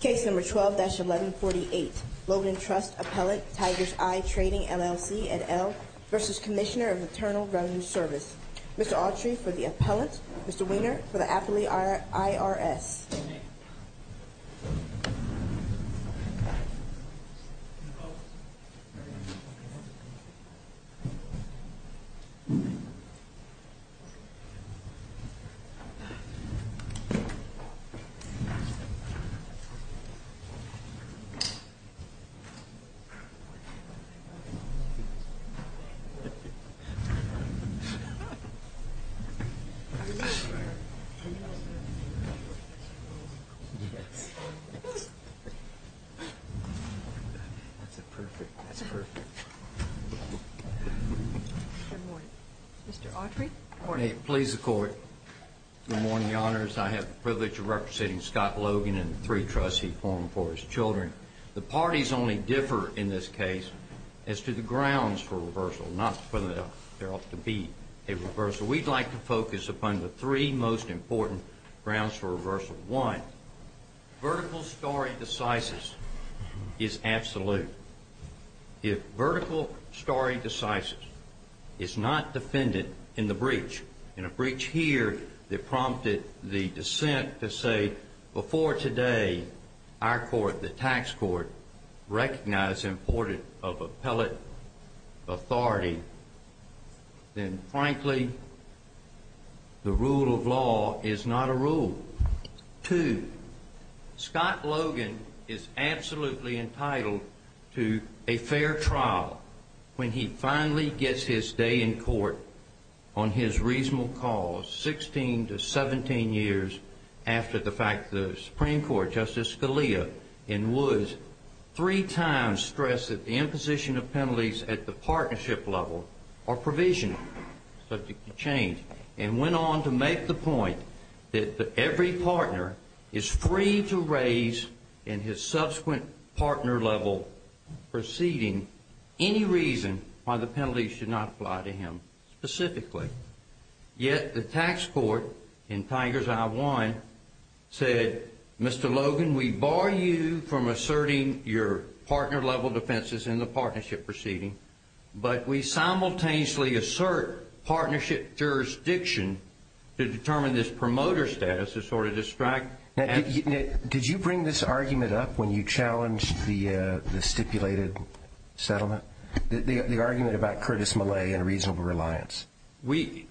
Case number 12-1148, Logan Trust Appellant, Tiger's Eye Trading, LLC, et al, versus Commissioner of Internal Revenue Service. Mr. Autry for the appellant, Mr. Wiener for the affidavit IRS. Good morning. Mr. Autry. The parties only differ in this case as to the grounds for reversal, not whether there ought to be a reversal. We'd like to focus upon the three most important grounds for reversal. One, vertical stare decisis is absolute. If vertical stare decisis is not defended in the breach, in a breach here that prompted the dissent to say, before today, our court, the tax court, recognized and reported of appellate authority, then frankly, the rule of law is not a rule. Two, Scott Logan is absolutely entitled to a fair trial when he finally gets his day in court on his reasonable cause, 16 to 17 years after the Supreme Court, Justice Scalia, in Woods, three times stressed that the imposition of penalties at the partnership level are provisional, subject to change, and went on to make the point that every partner is free to raise, in his subsequent partner-level proceeding, any reason why the penalties should not apply to him specifically. Yet the tax court in Tigers I-1 said, Mr. Logan, we bar you from asserting your partner-level defenses in the partnership proceeding, but we simultaneously assert partnership jurisdiction to determine this promoter status to sort of distract. Did you bring this argument up when you challenged the stipulated settlement, the argument about Curtis Malay and reasonable reliance? We,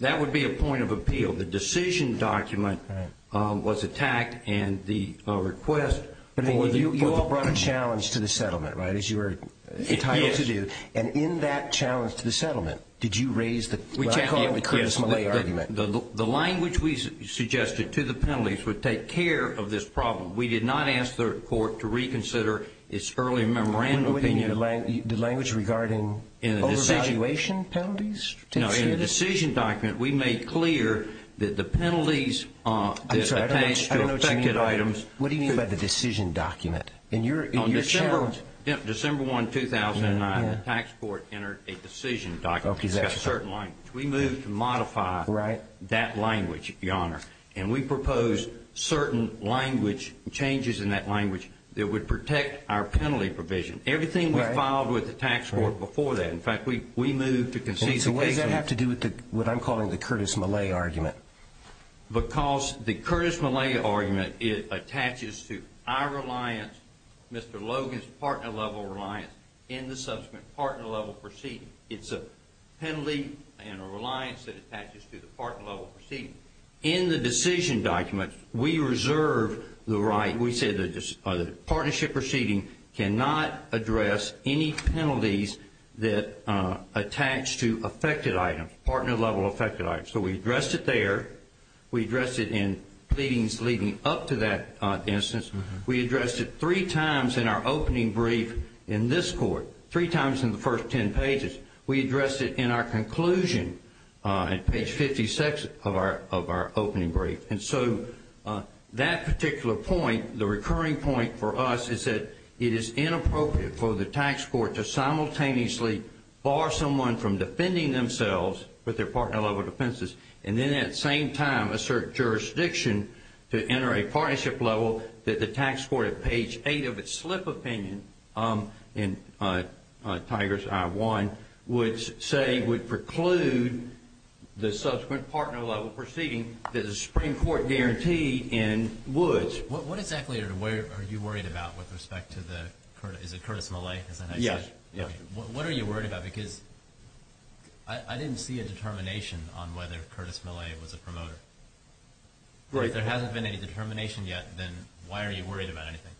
that would be a point of appeal. The decision document was attacked and the request for the You all brought a challenge to the settlement, right, as you were entitled to do. Yes. And in that challenge to the settlement, did you raise the We challenged the Curtis Malay argument. The language we suggested to the penalties would take care of this problem. We did not ask the court to reconsider its early memorandum opinion. The language regarding overvaluation penalties? No, in the decision document, we made clear that the penalties I'm sorry, I don't know what you mean by that. What do you mean by the decision document? In your challenge, December 1, 2009, the tax court entered a decision document. Okay, that's right. We moved to modify that language, Your Honor. And we proposed certain changes in that language that would protect our penalty provision. Everything was filed with the tax court before that. In fact, we moved to concede the case. So why does that have to do with what I'm calling the Curtis Malay argument? Because the Curtis Malay argument, it attaches to our reliance, Mr. Logan's partner-level reliance in the subsequent partner-level proceeding. It's a penalty and a reliance that attaches to the partner-level proceeding. In the decision document, we reserve the right, we say the partnership proceeding cannot address any penalties that attach to affected items, partner-level affected items. So we addressed it there. We addressed it in pleadings leading up to that instance. We addressed it three times in our opening brief in this court, three times in the first ten pages. We addressed it in our conclusion on page 56 of our opening brief. And so that particular point, the recurring point for us, is that it is inappropriate for the tax court to simultaneously bar someone from defending themselves with their partner-level defenses and then at the same time assert jurisdiction to enter a partnership level that the tax court at page 8 of its slip opinion in Tigers I-1 would say would preclude the subsequent partner-level proceeding that the Supreme Court guaranteed in Woods. What exactly are you worried about with respect to the Curtis Malay? What are you worried about? Because I didn't see a determination on whether Curtis Malay was a promoter. If there hasn't been any determination yet, then why are you worried about anything?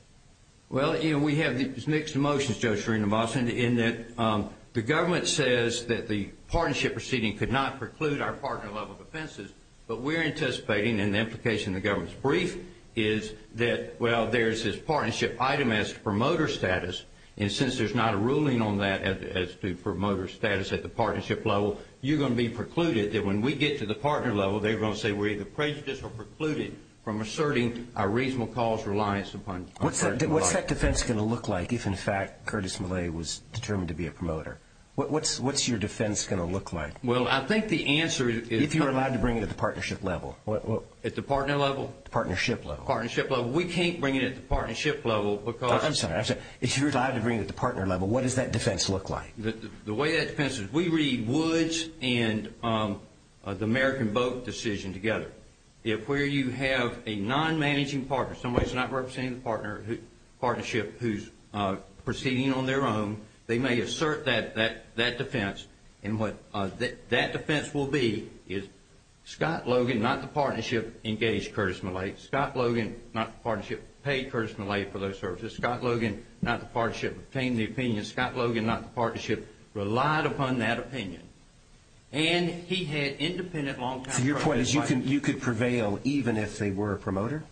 Well, you know, we have mixed emotions, Judge Srinivasan, in that the government says that the partnership proceeding could not preclude our partner-level defenses, but we're anticipating, and the implication of the government's brief is that, well, there's this partnership item as promoter status, and since there's not a ruling on that as to promoter status at the partnership level, you're going to be precluded that when we get to the partner level, they're going to say we're either prejudiced or precluded from asserting a reasonable cause reliance upon partner-level. What's that defense going to look like if, in fact, Curtis Malay was determined to be a promoter? What's your defense going to look like? Well, I think the answer is— If you're allowed to bring it at the partnership level. At the partner level? Partnership level. Partnership level. We can't bring it at the partnership level because— I'm sorry, I'm sorry. If you're allowed to bring it at the partner level, what does that defense look like? The way that defense is, we read Woods and the American Boat decision together. If where you have a non-managing partner, somebody that's not representing the partnership who's proceeding on their own, they may assert that defense, and what that defense will be is Scott Logan, not the partnership, engaged Curtis Malay. Scott Logan, not the partnership, paid Curtis Malay for those services. Scott Logan, not the partnership, obtained the opinion. Scott Logan, not the partnership, relied upon that opinion. And he had independent, long-term— So your point is you could prevail even if they were a promoter?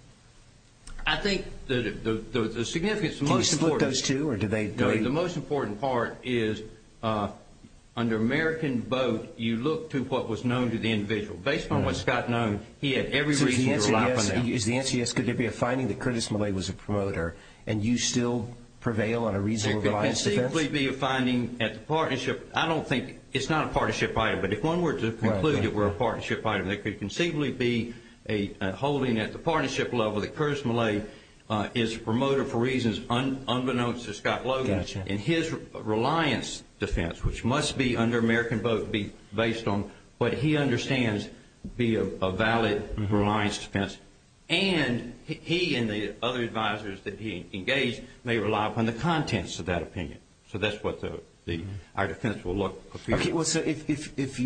I think the significance— Can you split those two, or do they— The most important part is, under American Boat, you look to what was known to the individual. Based on what Scott known, he had every reason to rely on them. So the answer is, could there be a finding that Curtis Malay was a promoter, and you still prevail on a reasonable defense? There could conceivably be a finding at the partnership. I don't think—it's not a partnership item, but if one were to conclude it were a partnership item, there could conceivably be a holding at the partnership level that Curtis Malay is a promoter for reasons unbeknownst to Scott Logan. Gotcha. And his reliance defense, which must be under American Boat, be based on what he understands be a valid reliance defense. And he and the other advisors that he engaged may rely upon the contents of that opinion. So that's what our defense will look like. Okay. Well, so if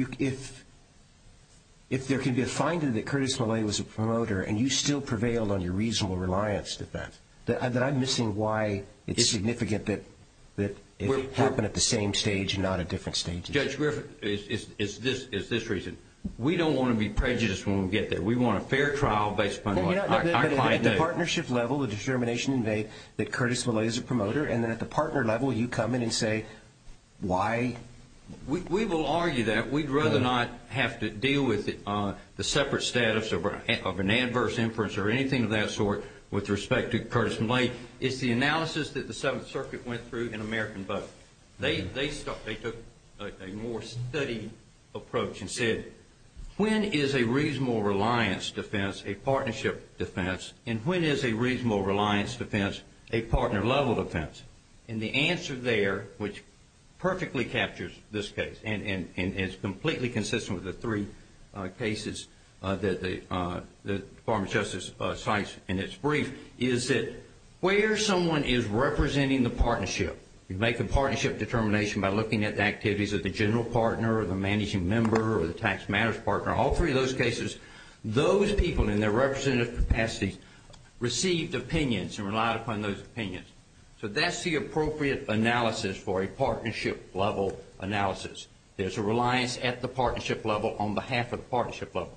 there can be a finding that Curtis Malay was a promoter, and you still prevailed on your reasonable reliance defense, then I'm missing why it's significant that it happened at the same stage and not at different stages. Judge Griffin, it's this reason. We don't want to be prejudiced when we get there. We want a fair trial based upon what I quite know. But at the partnership level, the determination made that Curtis Malay is a promoter, and then at the partner level you come in and say, why— We will argue that. We'd rather not have to deal with the separate status of an adverse inference or anything of that sort with respect to Curtis Malay. It's the analysis that the Seventh Circuit went through in American Boat. They took a more studied approach and said, when is a reasonable reliance defense a partnership defense, and when is a reasonable reliance defense a partner level defense? And the answer there, which perfectly captures this case, and is completely consistent with the three cases that the Department of Justice cites in its brief, is that where someone is representing the partnership, you make a partnership determination by looking at the activities of the general partner or the managing member or the tax matters partner, all three of those cases, those people in their representative capacities received opinions and relied upon those opinions. So that's the appropriate analysis for a partnership level analysis. There's a reliance at the partnership level on behalf of the partnership level.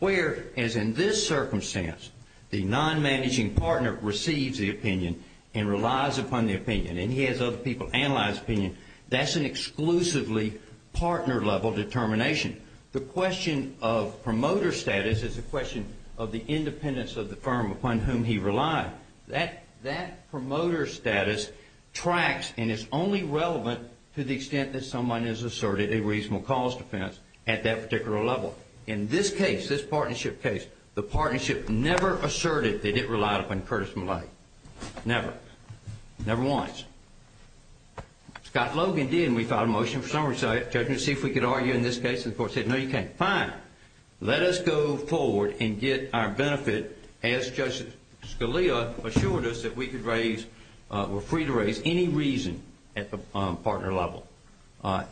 Where, as in this circumstance, the non-managing partner receives the opinion and relies upon the opinion, and he has other people analyze the opinion, that's an exclusively partner level determination. The question of promoter status is a question of the independence of the firm upon whom he relies. That promoter status tracks and is only relevant to the extent that someone has asserted a reasonable cause defense at that particular level. In this case, this partnership case, the partnership never asserted that it relied upon Curtis Malay. Never. Never once. Scott Logan did, and we filed a motion for summary judgment to see if we could argue in this case, and the court said, no, you can't. Fine. Let us go forward and get our benefit as Judge Scalia assured us that we could raise, we're free to raise any reason at the partner level,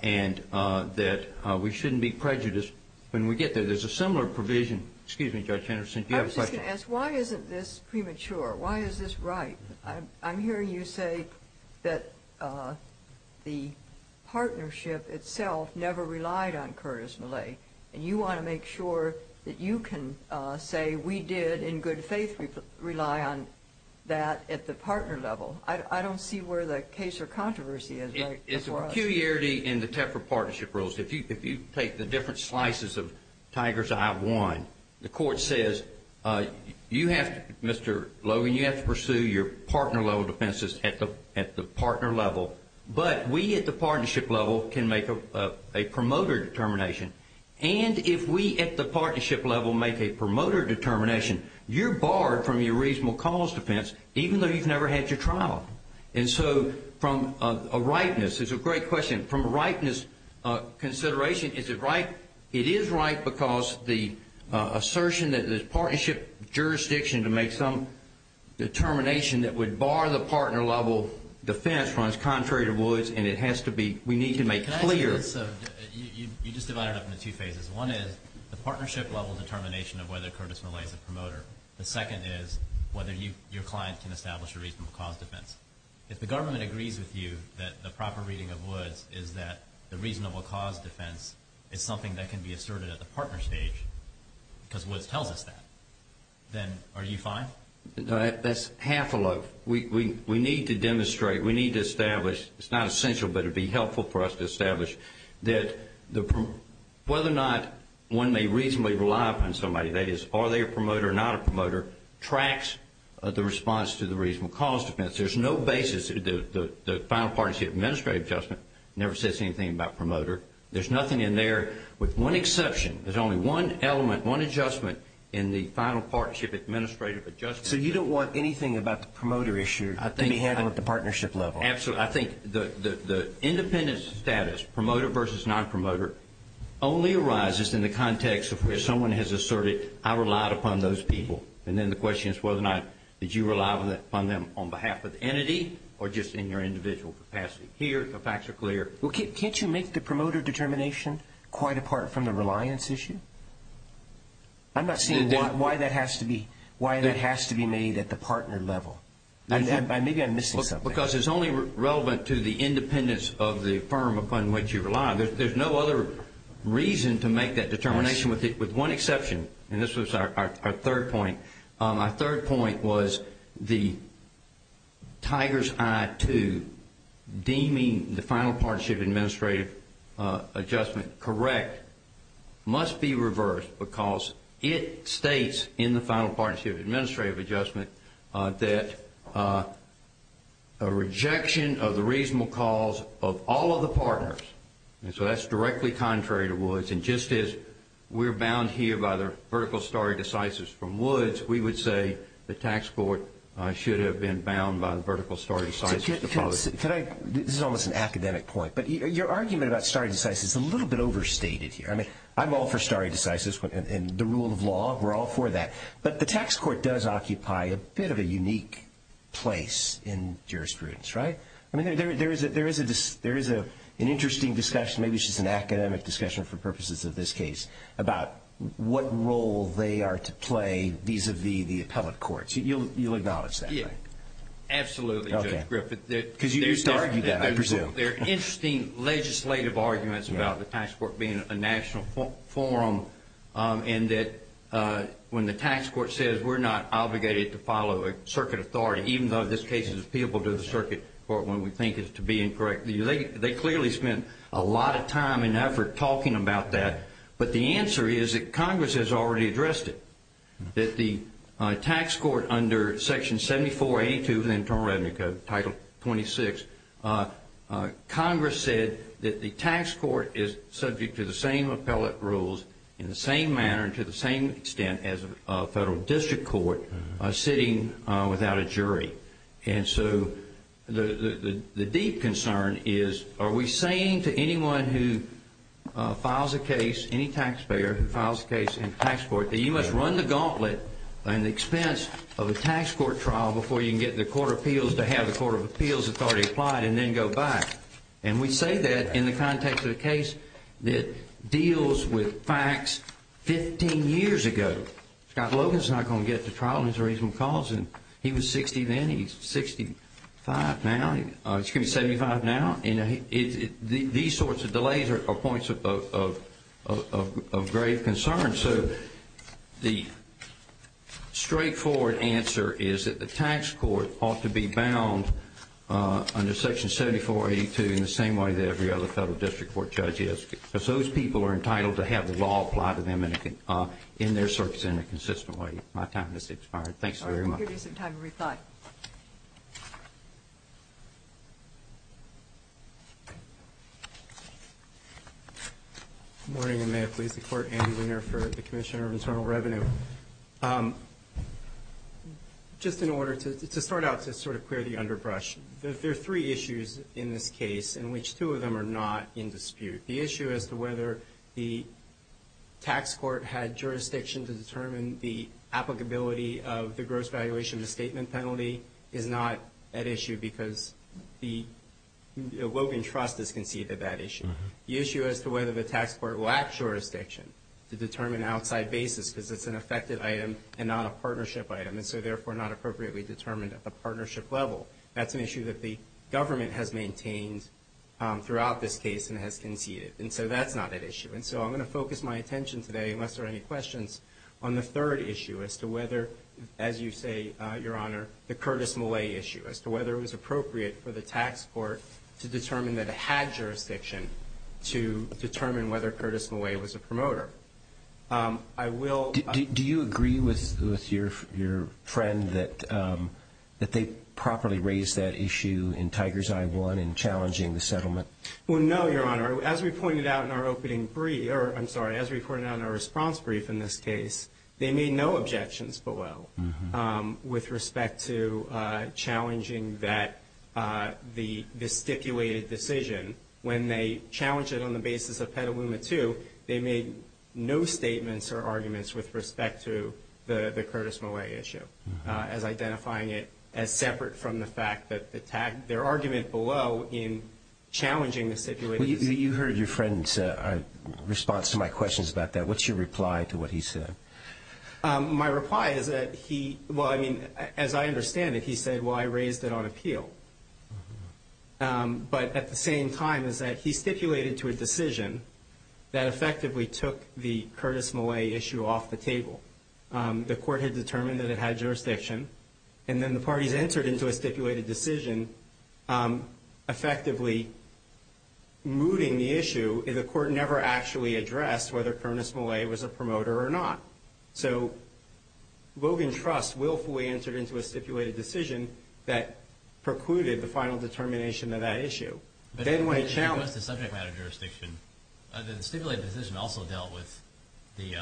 and that we shouldn't be prejudiced when we get there. There's a similar provision, excuse me, Judge Henderson, do you have a question? My question is, why isn't this premature? Why is this right? I'm hearing you say that the partnership itself never relied on Curtis Malay, and you want to make sure that you can say we did in good faith rely on that at the partner level. I don't see where the case or controversy is. It's a peculiarity in the Tefra partnership rules. If you take the different slices of Tiger's Eye 1, the court says, you have to, Mr. Logan, you have to pursue your partner level defenses at the partner level, but we at the partnership level can make a promoter determination, and if we at the partnership level make a promoter determination, you're barred from your reasonable cause defense even though you've never had your trial. And so from a rightness, it's a great question, from a rightness consideration, is it right? It is right because the assertion that the partnership jurisdiction to make some determination that would bar the partner level defense runs contrary to Woods, and it has to be, we need to make clear. Can I say this? You just divided it up into two phases. One is the partnership level determination of whether Curtis Malay is a promoter. The second is whether your client can establish a reasonable cause defense. If the government agrees with you that the proper reading of Woods is that the reasonable cause defense is something that can be asserted at the partner stage because Woods tells us that, then are you fine? That's half a loaf. We need to demonstrate, we need to establish, it's not essential, but it would be helpful for us to establish that whether or not one may reasonably rely upon somebody, that is, are they a promoter or not a promoter, tracks the response to the reasonable cause defense. There's no basis, the final partnership administrative adjustment never says anything about promoter. There's nothing in there with one exception. There's only one element, one adjustment in the final partnership administrative adjustment. So you don't want anything about the promoter issue to be handled at the partnership level? Absolutely. I think the independent status, promoter versus non-promoter, only arises in the context of where someone has asserted, I relied upon those people, and then the question is whether or not did you rely upon them on behalf of the entity or just in your individual capacity. Here, the facts are clear. Well, can't you make the promoter determination quite apart from the reliance issue? I'm not seeing why that has to be made at the partner level. Maybe I'm missing something. Because it's only relevant to the independence of the firm upon which you rely. There's no other reason to make that determination with one exception. And this was our third point. Our third point was the tiger's eye to deeming the final partnership administrative adjustment correct must be reversed because it states in the final partnership administrative adjustment that a rejection of the reasonable cause of all of the partners. And so that's directly contrary to Woods. And just as we're bound here by the vertical stare decisis from Woods, we would say the tax court should have been bound by the vertical stare decisis. This is almost an academic point. But your argument about stare decisis is a little bit overstated here. I mean, I'm all for stare decisis and the rule of law. We're all for that. But the tax court does occupy a bit of a unique place in jurisprudence, right? I mean, there is an interesting discussion, maybe it's just an academic discussion for purposes of this case, about what role they are to play vis-a-vis the appellate courts. You'll acknowledge that, right? Absolutely, Judge Griffith. Because you used to argue that, I presume. There are interesting legislative arguments about the tax court being a national forum and that when the tax court says we're not obligated to follow a circuit authority, even though this case is appealable to the circuit court when we think it's to be incorrect. They clearly spent a lot of time and effort talking about that. But the answer is that Congress has already addressed it, that the tax court under Section 74A2 of the Internal Revenue Code, Title 26, Congress said that the tax court is subject to the same appellate rules in the same manner and to the same extent as a federal district court sitting without a jury. And so the deep concern is, are we saying to anyone who files a case, any taxpayer who files a case in the tax court, that you must run the gauntlet at the expense of a tax court trial before you can get the court of appeals to have the court of appeals authority applied and then go back? And we say that in the context of a case that deals with facts 15 years ago. Scott Logan's not going to get to trial on his reasonable cause. He was 60 then. He's 65 now. He's going to be 75 now. These sorts of delays are points of grave concern. So the straightforward answer is that the tax court ought to be bound under Section 74A2 in the same way that every other federal district court judge is because those people are entitled to have the law applied to them in their circuits in a consistent way. My time has expired. Thanks very much. All right. We'll give you some time to rethought. Scott. Good morning, and may it please the Court. Andy Weiner for the Commissioner of Internal Revenue. Just in order to start out to sort of clear the underbrush, there are three issues in this case in which two of them are not in dispute. The issue as to whether the tax court had jurisdiction to determine the applicability of the gross valuation of the statement penalty is not at issue because the Logan Trust has conceded that issue. The issue as to whether the tax court lacked jurisdiction to determine outside basis because it's an effective item and not a partnership item and so therefore not appropriately determined at the partnership level, that's an issue that the government has maintained throughout this case and has conceded. And so that's not at issue. And so I'm going to focus my attention today, unless there are any questions, on the third issue as to whether, as you say, Your Honor, the Curtis Millay issue, as to whether it was appropriate for the tax court to determine that it had jurisdiction to determine whether Curtis Millay was a promoter. Do you agree with your friend that they properly raised that issue in Tiger's Eye I in challenging the settlement? Well, no, Your Honor. As we pointed out in our opening brief, or I'm sorry, as we pointed out in our response brief in this case, they made no objections below with respect to challenging the stipulated decision. When they challenged it on the basis of Petaluma II, they made no statements or arguments with respect to the Curtis Millay issue as identifying it as separate from the fact that their argument below in challenging the stipulated decision. You heard your friend's response to my questions about that. What's your reply to what he said? My reply is that he, well, I mean, as I understand it, he said, well, I raised it on appeal. But at the same time is that he stipulated to a decision that effectively took the Curtis Millay issue off the table. The court had determined that it had jurisdiction, and then the parties entered into a stipulated decision effectively mooting the issue. The court never actually addressed whether Curtis Millay was a promoter or not. So Logan Trust willfully entered into a stipulated decision that precluded the final determination of that issue. But as far as the subject matter jurisdiction, the stipulated decision also dealt with the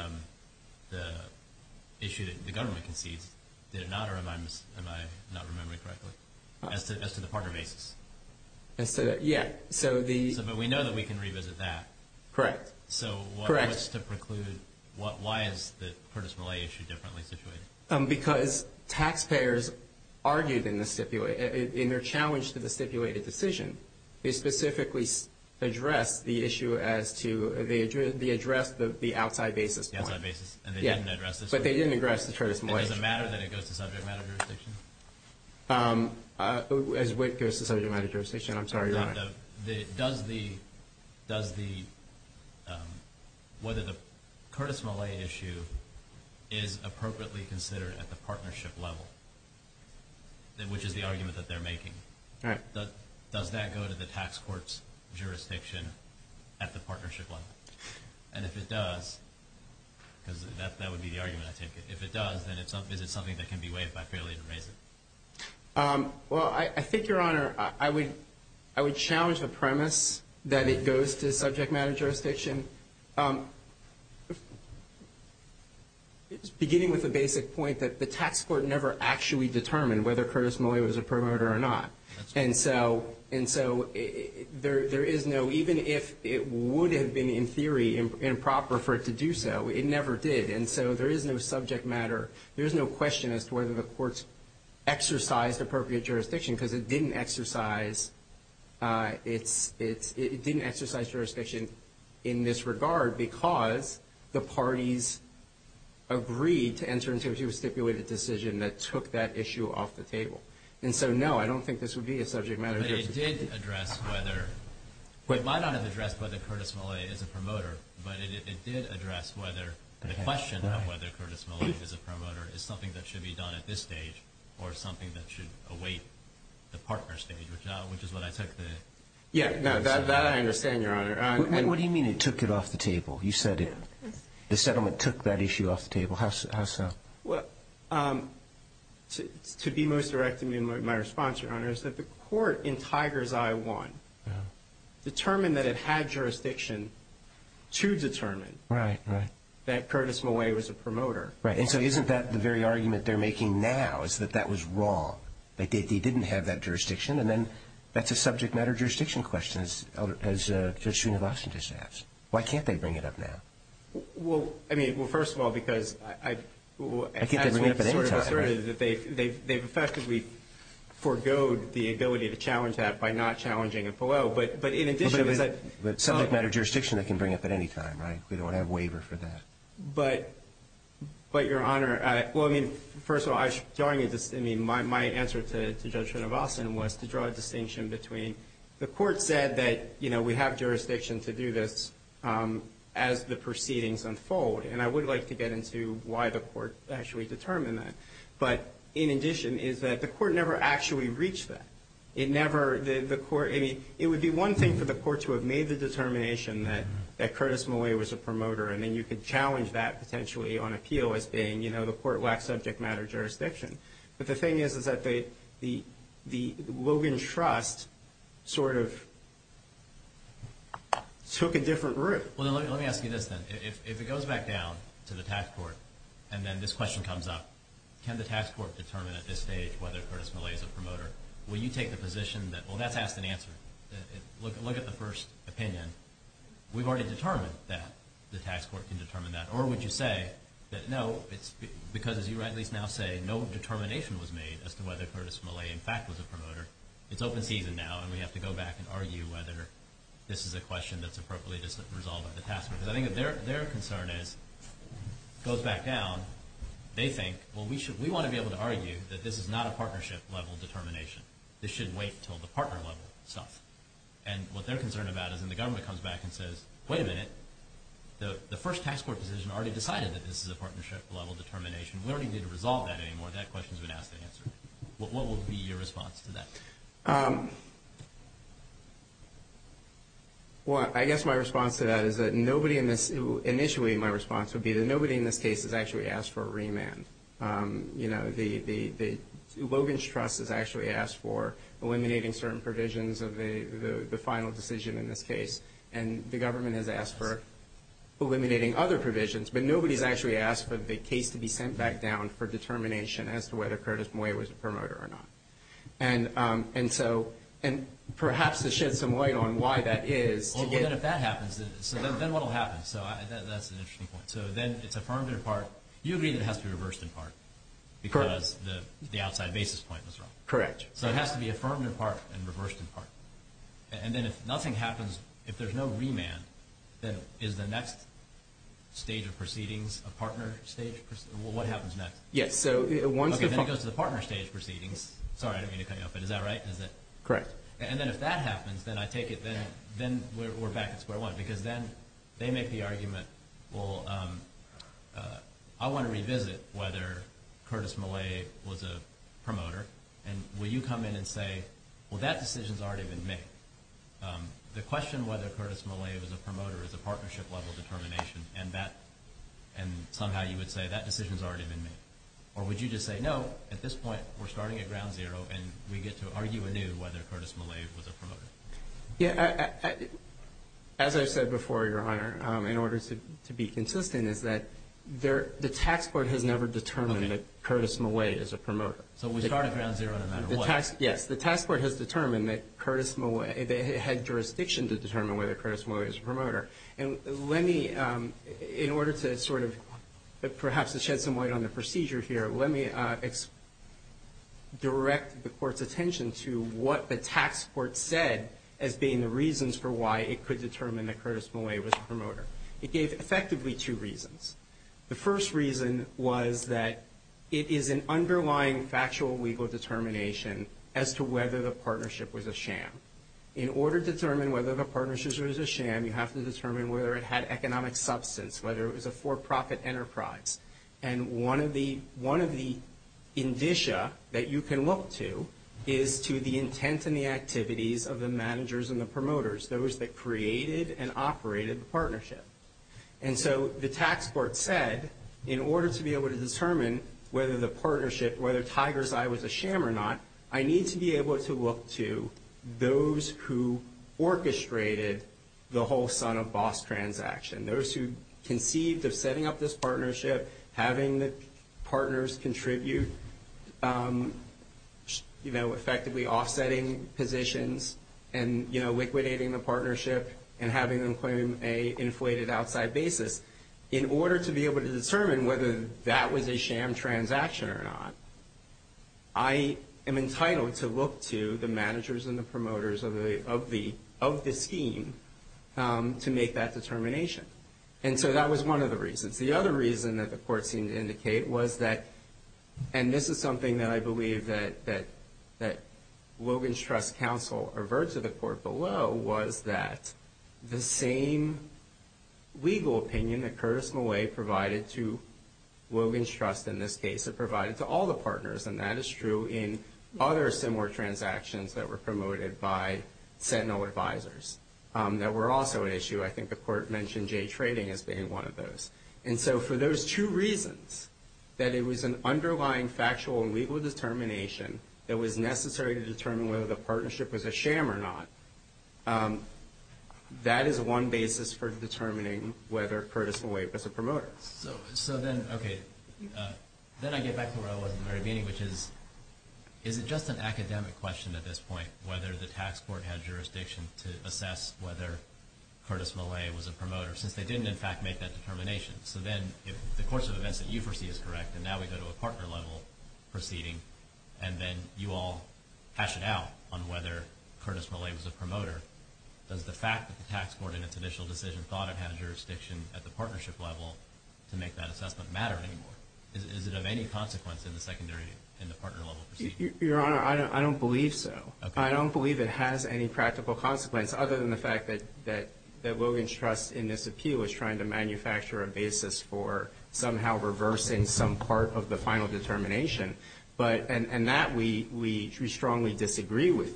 issue that the government concedes, did it not, or am I not remembering correctly, as to the partner basis? Yeah. But we know that we can revisit that. Correct. So what was to preclude, why is the Curtis Millay issue differently situated? Because taxpayers argued in their challenge to the stipulated decision, they specifically addressed the issue as to, they addressed the outside basis point. The outside basis. Yeah. But they didn't address the Curtis Millay issue. It doesn't matter that it goes to subject matter jurisdiction? Does the, whether the Curtis Millay issue is appropriately considered at the partnership level, which is the argument that they're making. Right. Does that go to the tax court's jurisdiction at the partnership level? And if it does, because that would be the argument I take it, if it does, then is it something that can be waived by fairly to raise it? Well, I think, Your Honor, I would challenge the premise that it goes to subject matter jurisdiction. Beginning with the basic point that the tax court never actually determined whether Curtis Millay was a promoter or not. And so there is no, even if it would have been in theory improper for it to do so, it never did. And so there is no subject matter. There is no question as to whether the courts exercised appropriate jurisdiction, because it didn't exercise its, it didn't exercise jurisdiction in this regard, because the parties agreed to enter into a stipulated decision that took that issue off the table. And so, no, I don't think this would be a subject matter jurisdiction. But it did address whether, it might not have addressed whether Curtis Millay is a promoter, but it did address whether the question of whether Curtis Millay is a promoter is something that should be done at this stage or something that should await the partner stage, which is what I took the. Yeah, that I understand, Your Honor. And what do you mean it took it off the table? You said the settlement took that issue off the table. How so? Well, to be most direct in my response, Your Honor, is that the court in Tiger's I-1 determined that it had jurisdiction to determine that Curtis Millay was a promoter. Right. And so isn't that the very argument they're making now, is that that was wrong, that they didn't have that jurisdiction? And then that's a subject matter jurisdiction question, as Judge Srinivasan just asked. Why can't they bring it up now? Well, I mean, well, first of all, because I... I can't bring it up at any time. They've effectively foregoed the ability to challenge that by not challenging it below. But in addition is that... But subject matter jurisdiction they can bring up at any time, right? We don't have waiver for that. But, Your Honor, well, I mean, first of all, my answer to Judge Srinivasan was to draw a distinction between... The court said that, you know, we have jurisdiction to do this as the proceedings unfold, and I would like to get into why the court actually determined that. But in addition is that the court never actually reached that. It never... The court... I mean, it would be one thing for the court to have made the determination that Curtis Millay was a promoter, and then you could challenge that potentially on appeal as being, you know, the court lacked subject matter jurisdiction. But the thing is, is that the Logan Trust sort of took a different route. Well, then let me ask you this, then. If it goes back down to the tax court and then this question comes up, can the tax court determine at this stage whether Curtis Millay is a promoter? Will you take the position that, well, that's asked and answered. Look at the first opinion. We've already determined that the tax court can determine that. Or would you say that, no, it's because, as you at least now say, no determination was made as to whether Curtis Millay, in fact, was a promoter. It's open season now, and we have to go back and argue whether this is a question that's appropriately resolved by the tax court. Because I think their concern is, it goes back down, they think, well, we want to be able to argue that this is not a partnership-level determination. This should wait until the partner-level stuff. And what they're concerned about is when the government comes back and says, wait a minute, the first tax court decision already decided that this is a partnership-level determination. We don't even need to resolve that anymore. That question's been asked and answered. What will be your response to that? Well, I guess my response to that is that nobody in this – the Logan's Trust has actually asked for eliminating certain provisions of the final decision in this case. And the government has asked for eliminating other provisions. But nobody's actually asked for the case to be sent back down for determination as to whether Curtis Millay was a promoter or not. And so – and perhaps to shed some light on why that is. Well, then if that happens, then what will happen? So that's an interesting point. So then it's affirmed in part. You agree that it has to be reversed in part because the outside basis point was wrong. Correct. So it has to be affirmed in part and reversed in part. And then if nothing happens, if there's no remand, then is the next stage of proceedings a partner stage? What happens next? Yes, so once the – Okay, then it goes to the partner stage proceedings. Sorry, I didn't mean to cut you off, but is that right? Is it? Correct. And then if that happens, then I take it then we're back at square one. Because then they make the argument, well, I want to revisit whether Curtis Millay was a promoter. And will you come in and say, well, that decision's already been made. The question whether Curtis Millay was a promoter is a partnership level determination. And that – and somehow you would say that decision's already been made. Or would you just say, no, at this point we're starting at ground zero and we get to argue anew whether Curtis Millay was a promoter. Yeah, as I said before, Your Honor, in order to be consistent is that the tax court has never determined that Curtis Millay is a promoter. So we start at ground zero no matter what. Yes, the tax court has determined that Curtis Millay – they had jurisdiction to determine whether Curtis Millay was a promoter. And let me – in order to sort of perhaps shed some light on the procedure here, let me direct the court's attention to what the tax court said as being the reasons for why it could determine that Curtis Millay was a promoter. It gave effectively two reasons. The first reason was that it is an underlying factual legal determination as to whether the partnership was a sham. In order to determine whether the partnership was a sham, you have to determine whether it had economic substance, whether it was a for-profit enterprise. And one of the – one of the indicia that you can look to is to the intent and the activities of the managers and the promoters, those that created and operated the partnership. And so the tax court said, in order to be able to determine whether the partnership – whether Tiger's Eye was a sham or not, I need to be able to look to those who orchestrated the whole son-of-boss transaction, those who conceived of setting up this partnership, having the partners contribute, you know, effectively offsetting positions and, you know, liquidating the partnership and having them claim an inflated outside basis. In order to be able to determine whether that was a sham transaction or not, I am entitled to look to the managers and the promoters of the scheme to make that determination. And so that was one of the reasons. The other reason that the court seemed to indicate was that – and this is something that I believe that Logan's Trust counsel averted to the court below – was that the same legal opinion that Curtis Malay provided to Logan's Trust in this case, it provided to all the partners, and that is true in other similar transactions that were promoted by Sentinel advisors, that were also an issue. I think the court mentioned Jay Trading as being one of those. And so for those two reasons, that it was an underlying factual and legal determination that was necessary to determine whether the partnership was a sham or not, that is one basis for determining whether Curtis Malay was a promoter. So then, okay, then I get back to where I was at the very beginning, which is, is it just an academic question at this point whether the tax court had jurisdiction to assess whether Curtis Malay was a promoter, since they didn't, in fact, make that determination? So then, if the course of events that you foresee is correct, and now we go to a partner-level proceeding, and then you all hash it out on whether Curtis Malay was a promoter, does the fact that the tax court in its initial decision thought it had jurisdiction at the partnership level to make that assessment matter anymore? Is it of any consequence in the secondary, in the partner-level proceeding? Your Honor, I don't believe so. I don't believe it has any practical consequence, other than the fact that Logan's Trust in this appeal is trying to manufacture a basis for somehow reversing some part of the final determination. And that we strongly disagree with.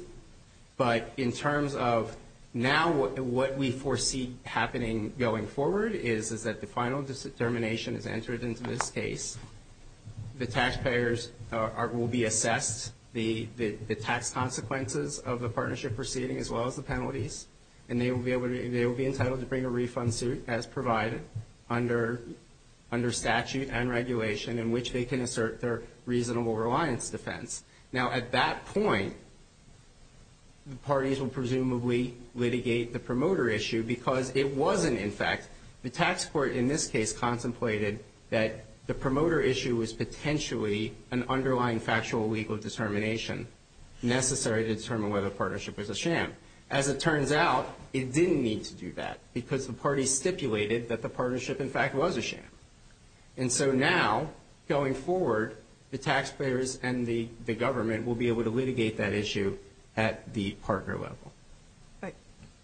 But in terms of now what we foresee happening going forward is that the final determination is entered into this case. The taxpayers will be assessed the tax consequences of the partnership proceeding as well as the penalties. And they will be entitled to bring a refund suit as provided under statute and regulation in which they can assert their reasonable reliance defense. Now, at that point, the parties will presumably litigate the promoter issue because it wasn't, in fact. The tax court in this case contemplated that the promoter issue was potentially an underlying factual legal determination necessary to determine whether the partnership was a sham. As it turns out, it didn't need to do that because the parties stipulated that the partnership, in fact, was a sham. And so now, going forward, the taxpayers and the government will be able to litigate that issue at the partner level. Right.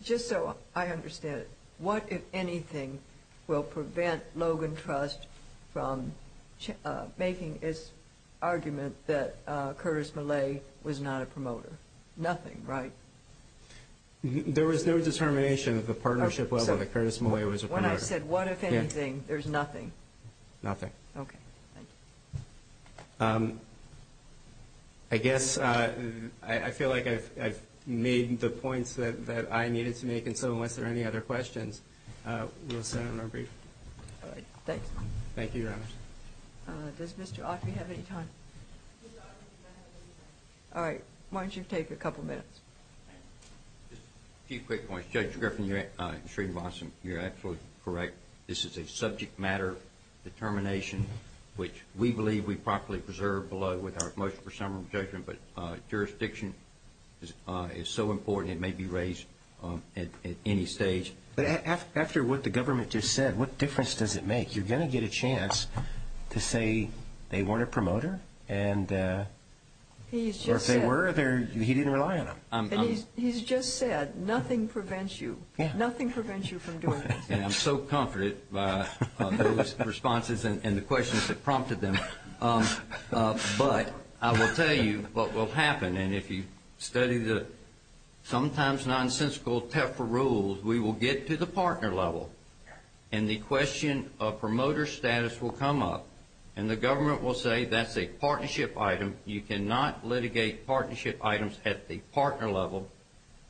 Just so I understand, what, if anything, will prevent Logan Trust from making its argument that Curtis Millay was not a promoter? Nothing, right? There was no determination at the partnership level that Curtis Millay was a promoter. When I said, what, if anything, there's nothing? Nothing. Okay. Thank you. I guess I feel like I've made the points that I needed to make, and so unless there are any other questions, we'll sign on our brief. All right. Thanks. Thank you, Your Honor. Does Mr. Autry have any time? Mr. Autry, do you have any time? All right. Why don't you take a couple minutes? Just a few quick points. Judge Griffin, you're absolutely correct. This is a subject matter determination, which we believe we properly preserve below with our motion for summary judgment, but jurisdiction is so important it may be raised at any stage. But after what the government just said, what difference does it make? You're going to get a chance to say they weren't a promoter, or if they were, he didn't rely on them. And he's just said, nothing prevents you. Nothing prevents you from doing this. And I'm so comforted by those responses and the questions that prompted them. But I will tell you what will happen, and if you study the sometimes nonsensical TEFRA rules, we will get to the partner level, and the question of promoter status will come up, and the government will say that's a partnership item. You cannot litigate partnership items at the partner level.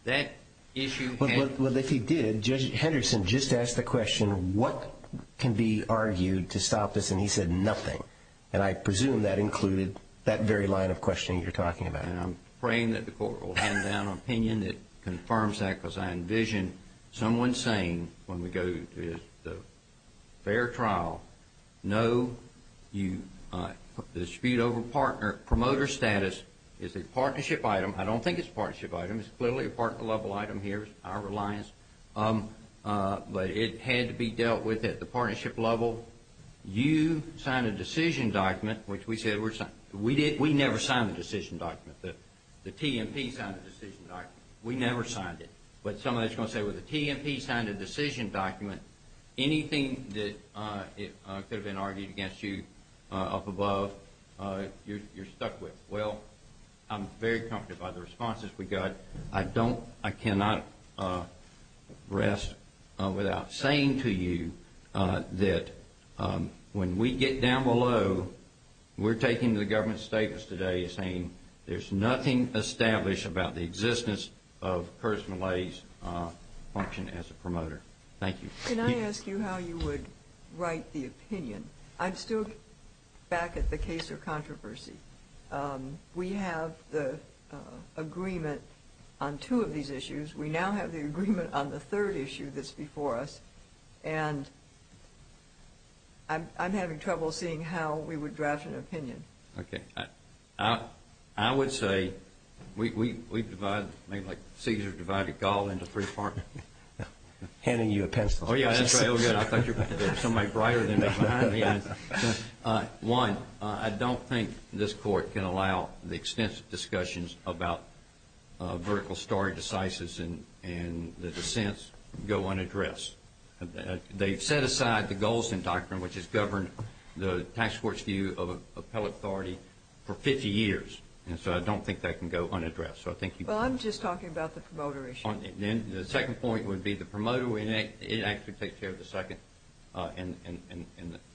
That issue has to be resolved. Well, if he did, Judge Henderson just asked the question, what can be argued to stop this? And he said, nothing. And I presume that included that very line of questioning you're talking about. And I'm praying that the court will hand down an opinion that confirms that, because I envision someone saying when we go to the fair trial, no, the dispute over promoter status is a partnership item. I don't think it's a partnership item. It's clearly a partner level item here, our reliance. But it had to be dealt with at the partnership level. You signed a decision document, which we said we're signing. We never signed the decision document. The TMP signed the decision document. We never signed it. But somebody's going to say, well, the TMP signed the decision document. Anything that could have been argued against you up above, you're stuck with. Well, I'm very comforted by the responses we got. I don't, I cannot rest without saying to you that when we get down below, we're taking to the government's status today as saying there's nothing established about the existence of Curtis Millay's function as a promoter. Thank you. Can I ask you how you would write the opinion? I'm still back at the case of controversy. We have the agreement on two of these issues. We now have the agreement on the third issue that's before us. And I'm having trouble seeing how we would draft an opinion. Okay. I would say we divide, maybe like Caesar divided Gaul into three parts. Handing you a pencil. Oh, yeah, that's right. Oh, good. I thought you were somebody brighter than me. One, I don't think this Court can allow the extensive discussions about vertical story decisis and the dissents go unaddressed. They've set aside the Golsan Doctrine, which has governed the tax court's view of appellate authority for 50 years. And so I don't think that can go unaddressed. Well, I'm just talking about the promoter issue. The second point would be the promoter. It actually takes care of the second and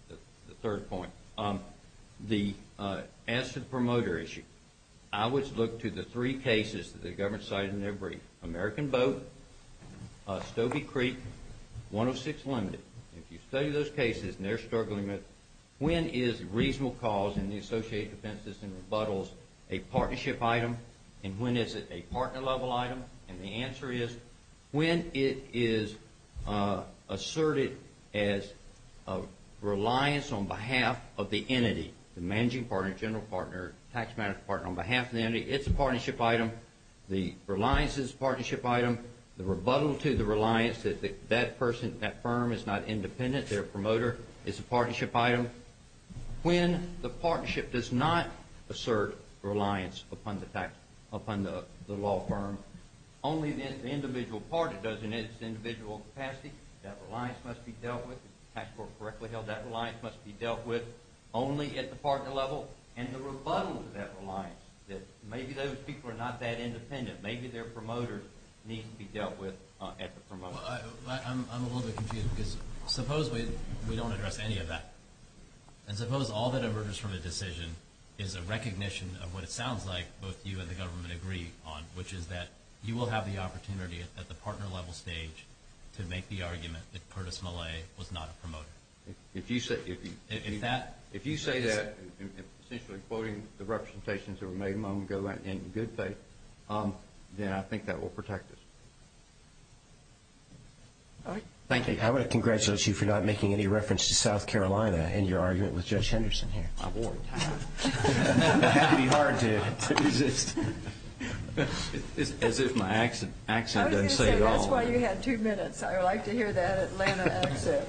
the third point. As to the promoter issue, I would look to the three cases that the government cited in their brief, American Boat, Stobie Creek, 106 Limited. If you study those cases and they're struggling with when is reasonable cause in the associated offenses and rebuttals a partnership item and when is it a partner-level item? And the answer is when it is asserted as a reliance on behalf of the entity, the managing partner, general partner, tax manager partner, on behalf of the entity, it's a partnership item. The reliance is a partnership item. The rebuttal to the reliance that that person, that firm is not independent, their promoter is a partnership item. When the partnership does not assert reliance upon the law firm, only the individual party does in its individual capacity. That reliance must be dealt with. If the tax court correctly held that reliance must be dealt with only at the partner level. And the rebuttal to that reliance that maybe those people are not that independent, maybe their promoter needs to be dealt with at the promoter level. I'm a little bit confused because suppose we don't address any of that. And suppose all that emerges from the decision is a recognition of what it sounds like both you and the government agree on, which is that you will have the opportunity at the partner-level stage to make the argument that Curtis Millay was not a promoter. If you say that, essentially quoting the representations that were made a moment ago in good faith, then I think that will protect us. Thank you. I want to congratulate you for not making any reference to South Carolina in your argument with Judge Henderson here. I wore a tie. It had to be hard to resist. As if my accent doesn't say it all. I was going to say, that's why you had two minutes. I like to hear that Atlanta accent.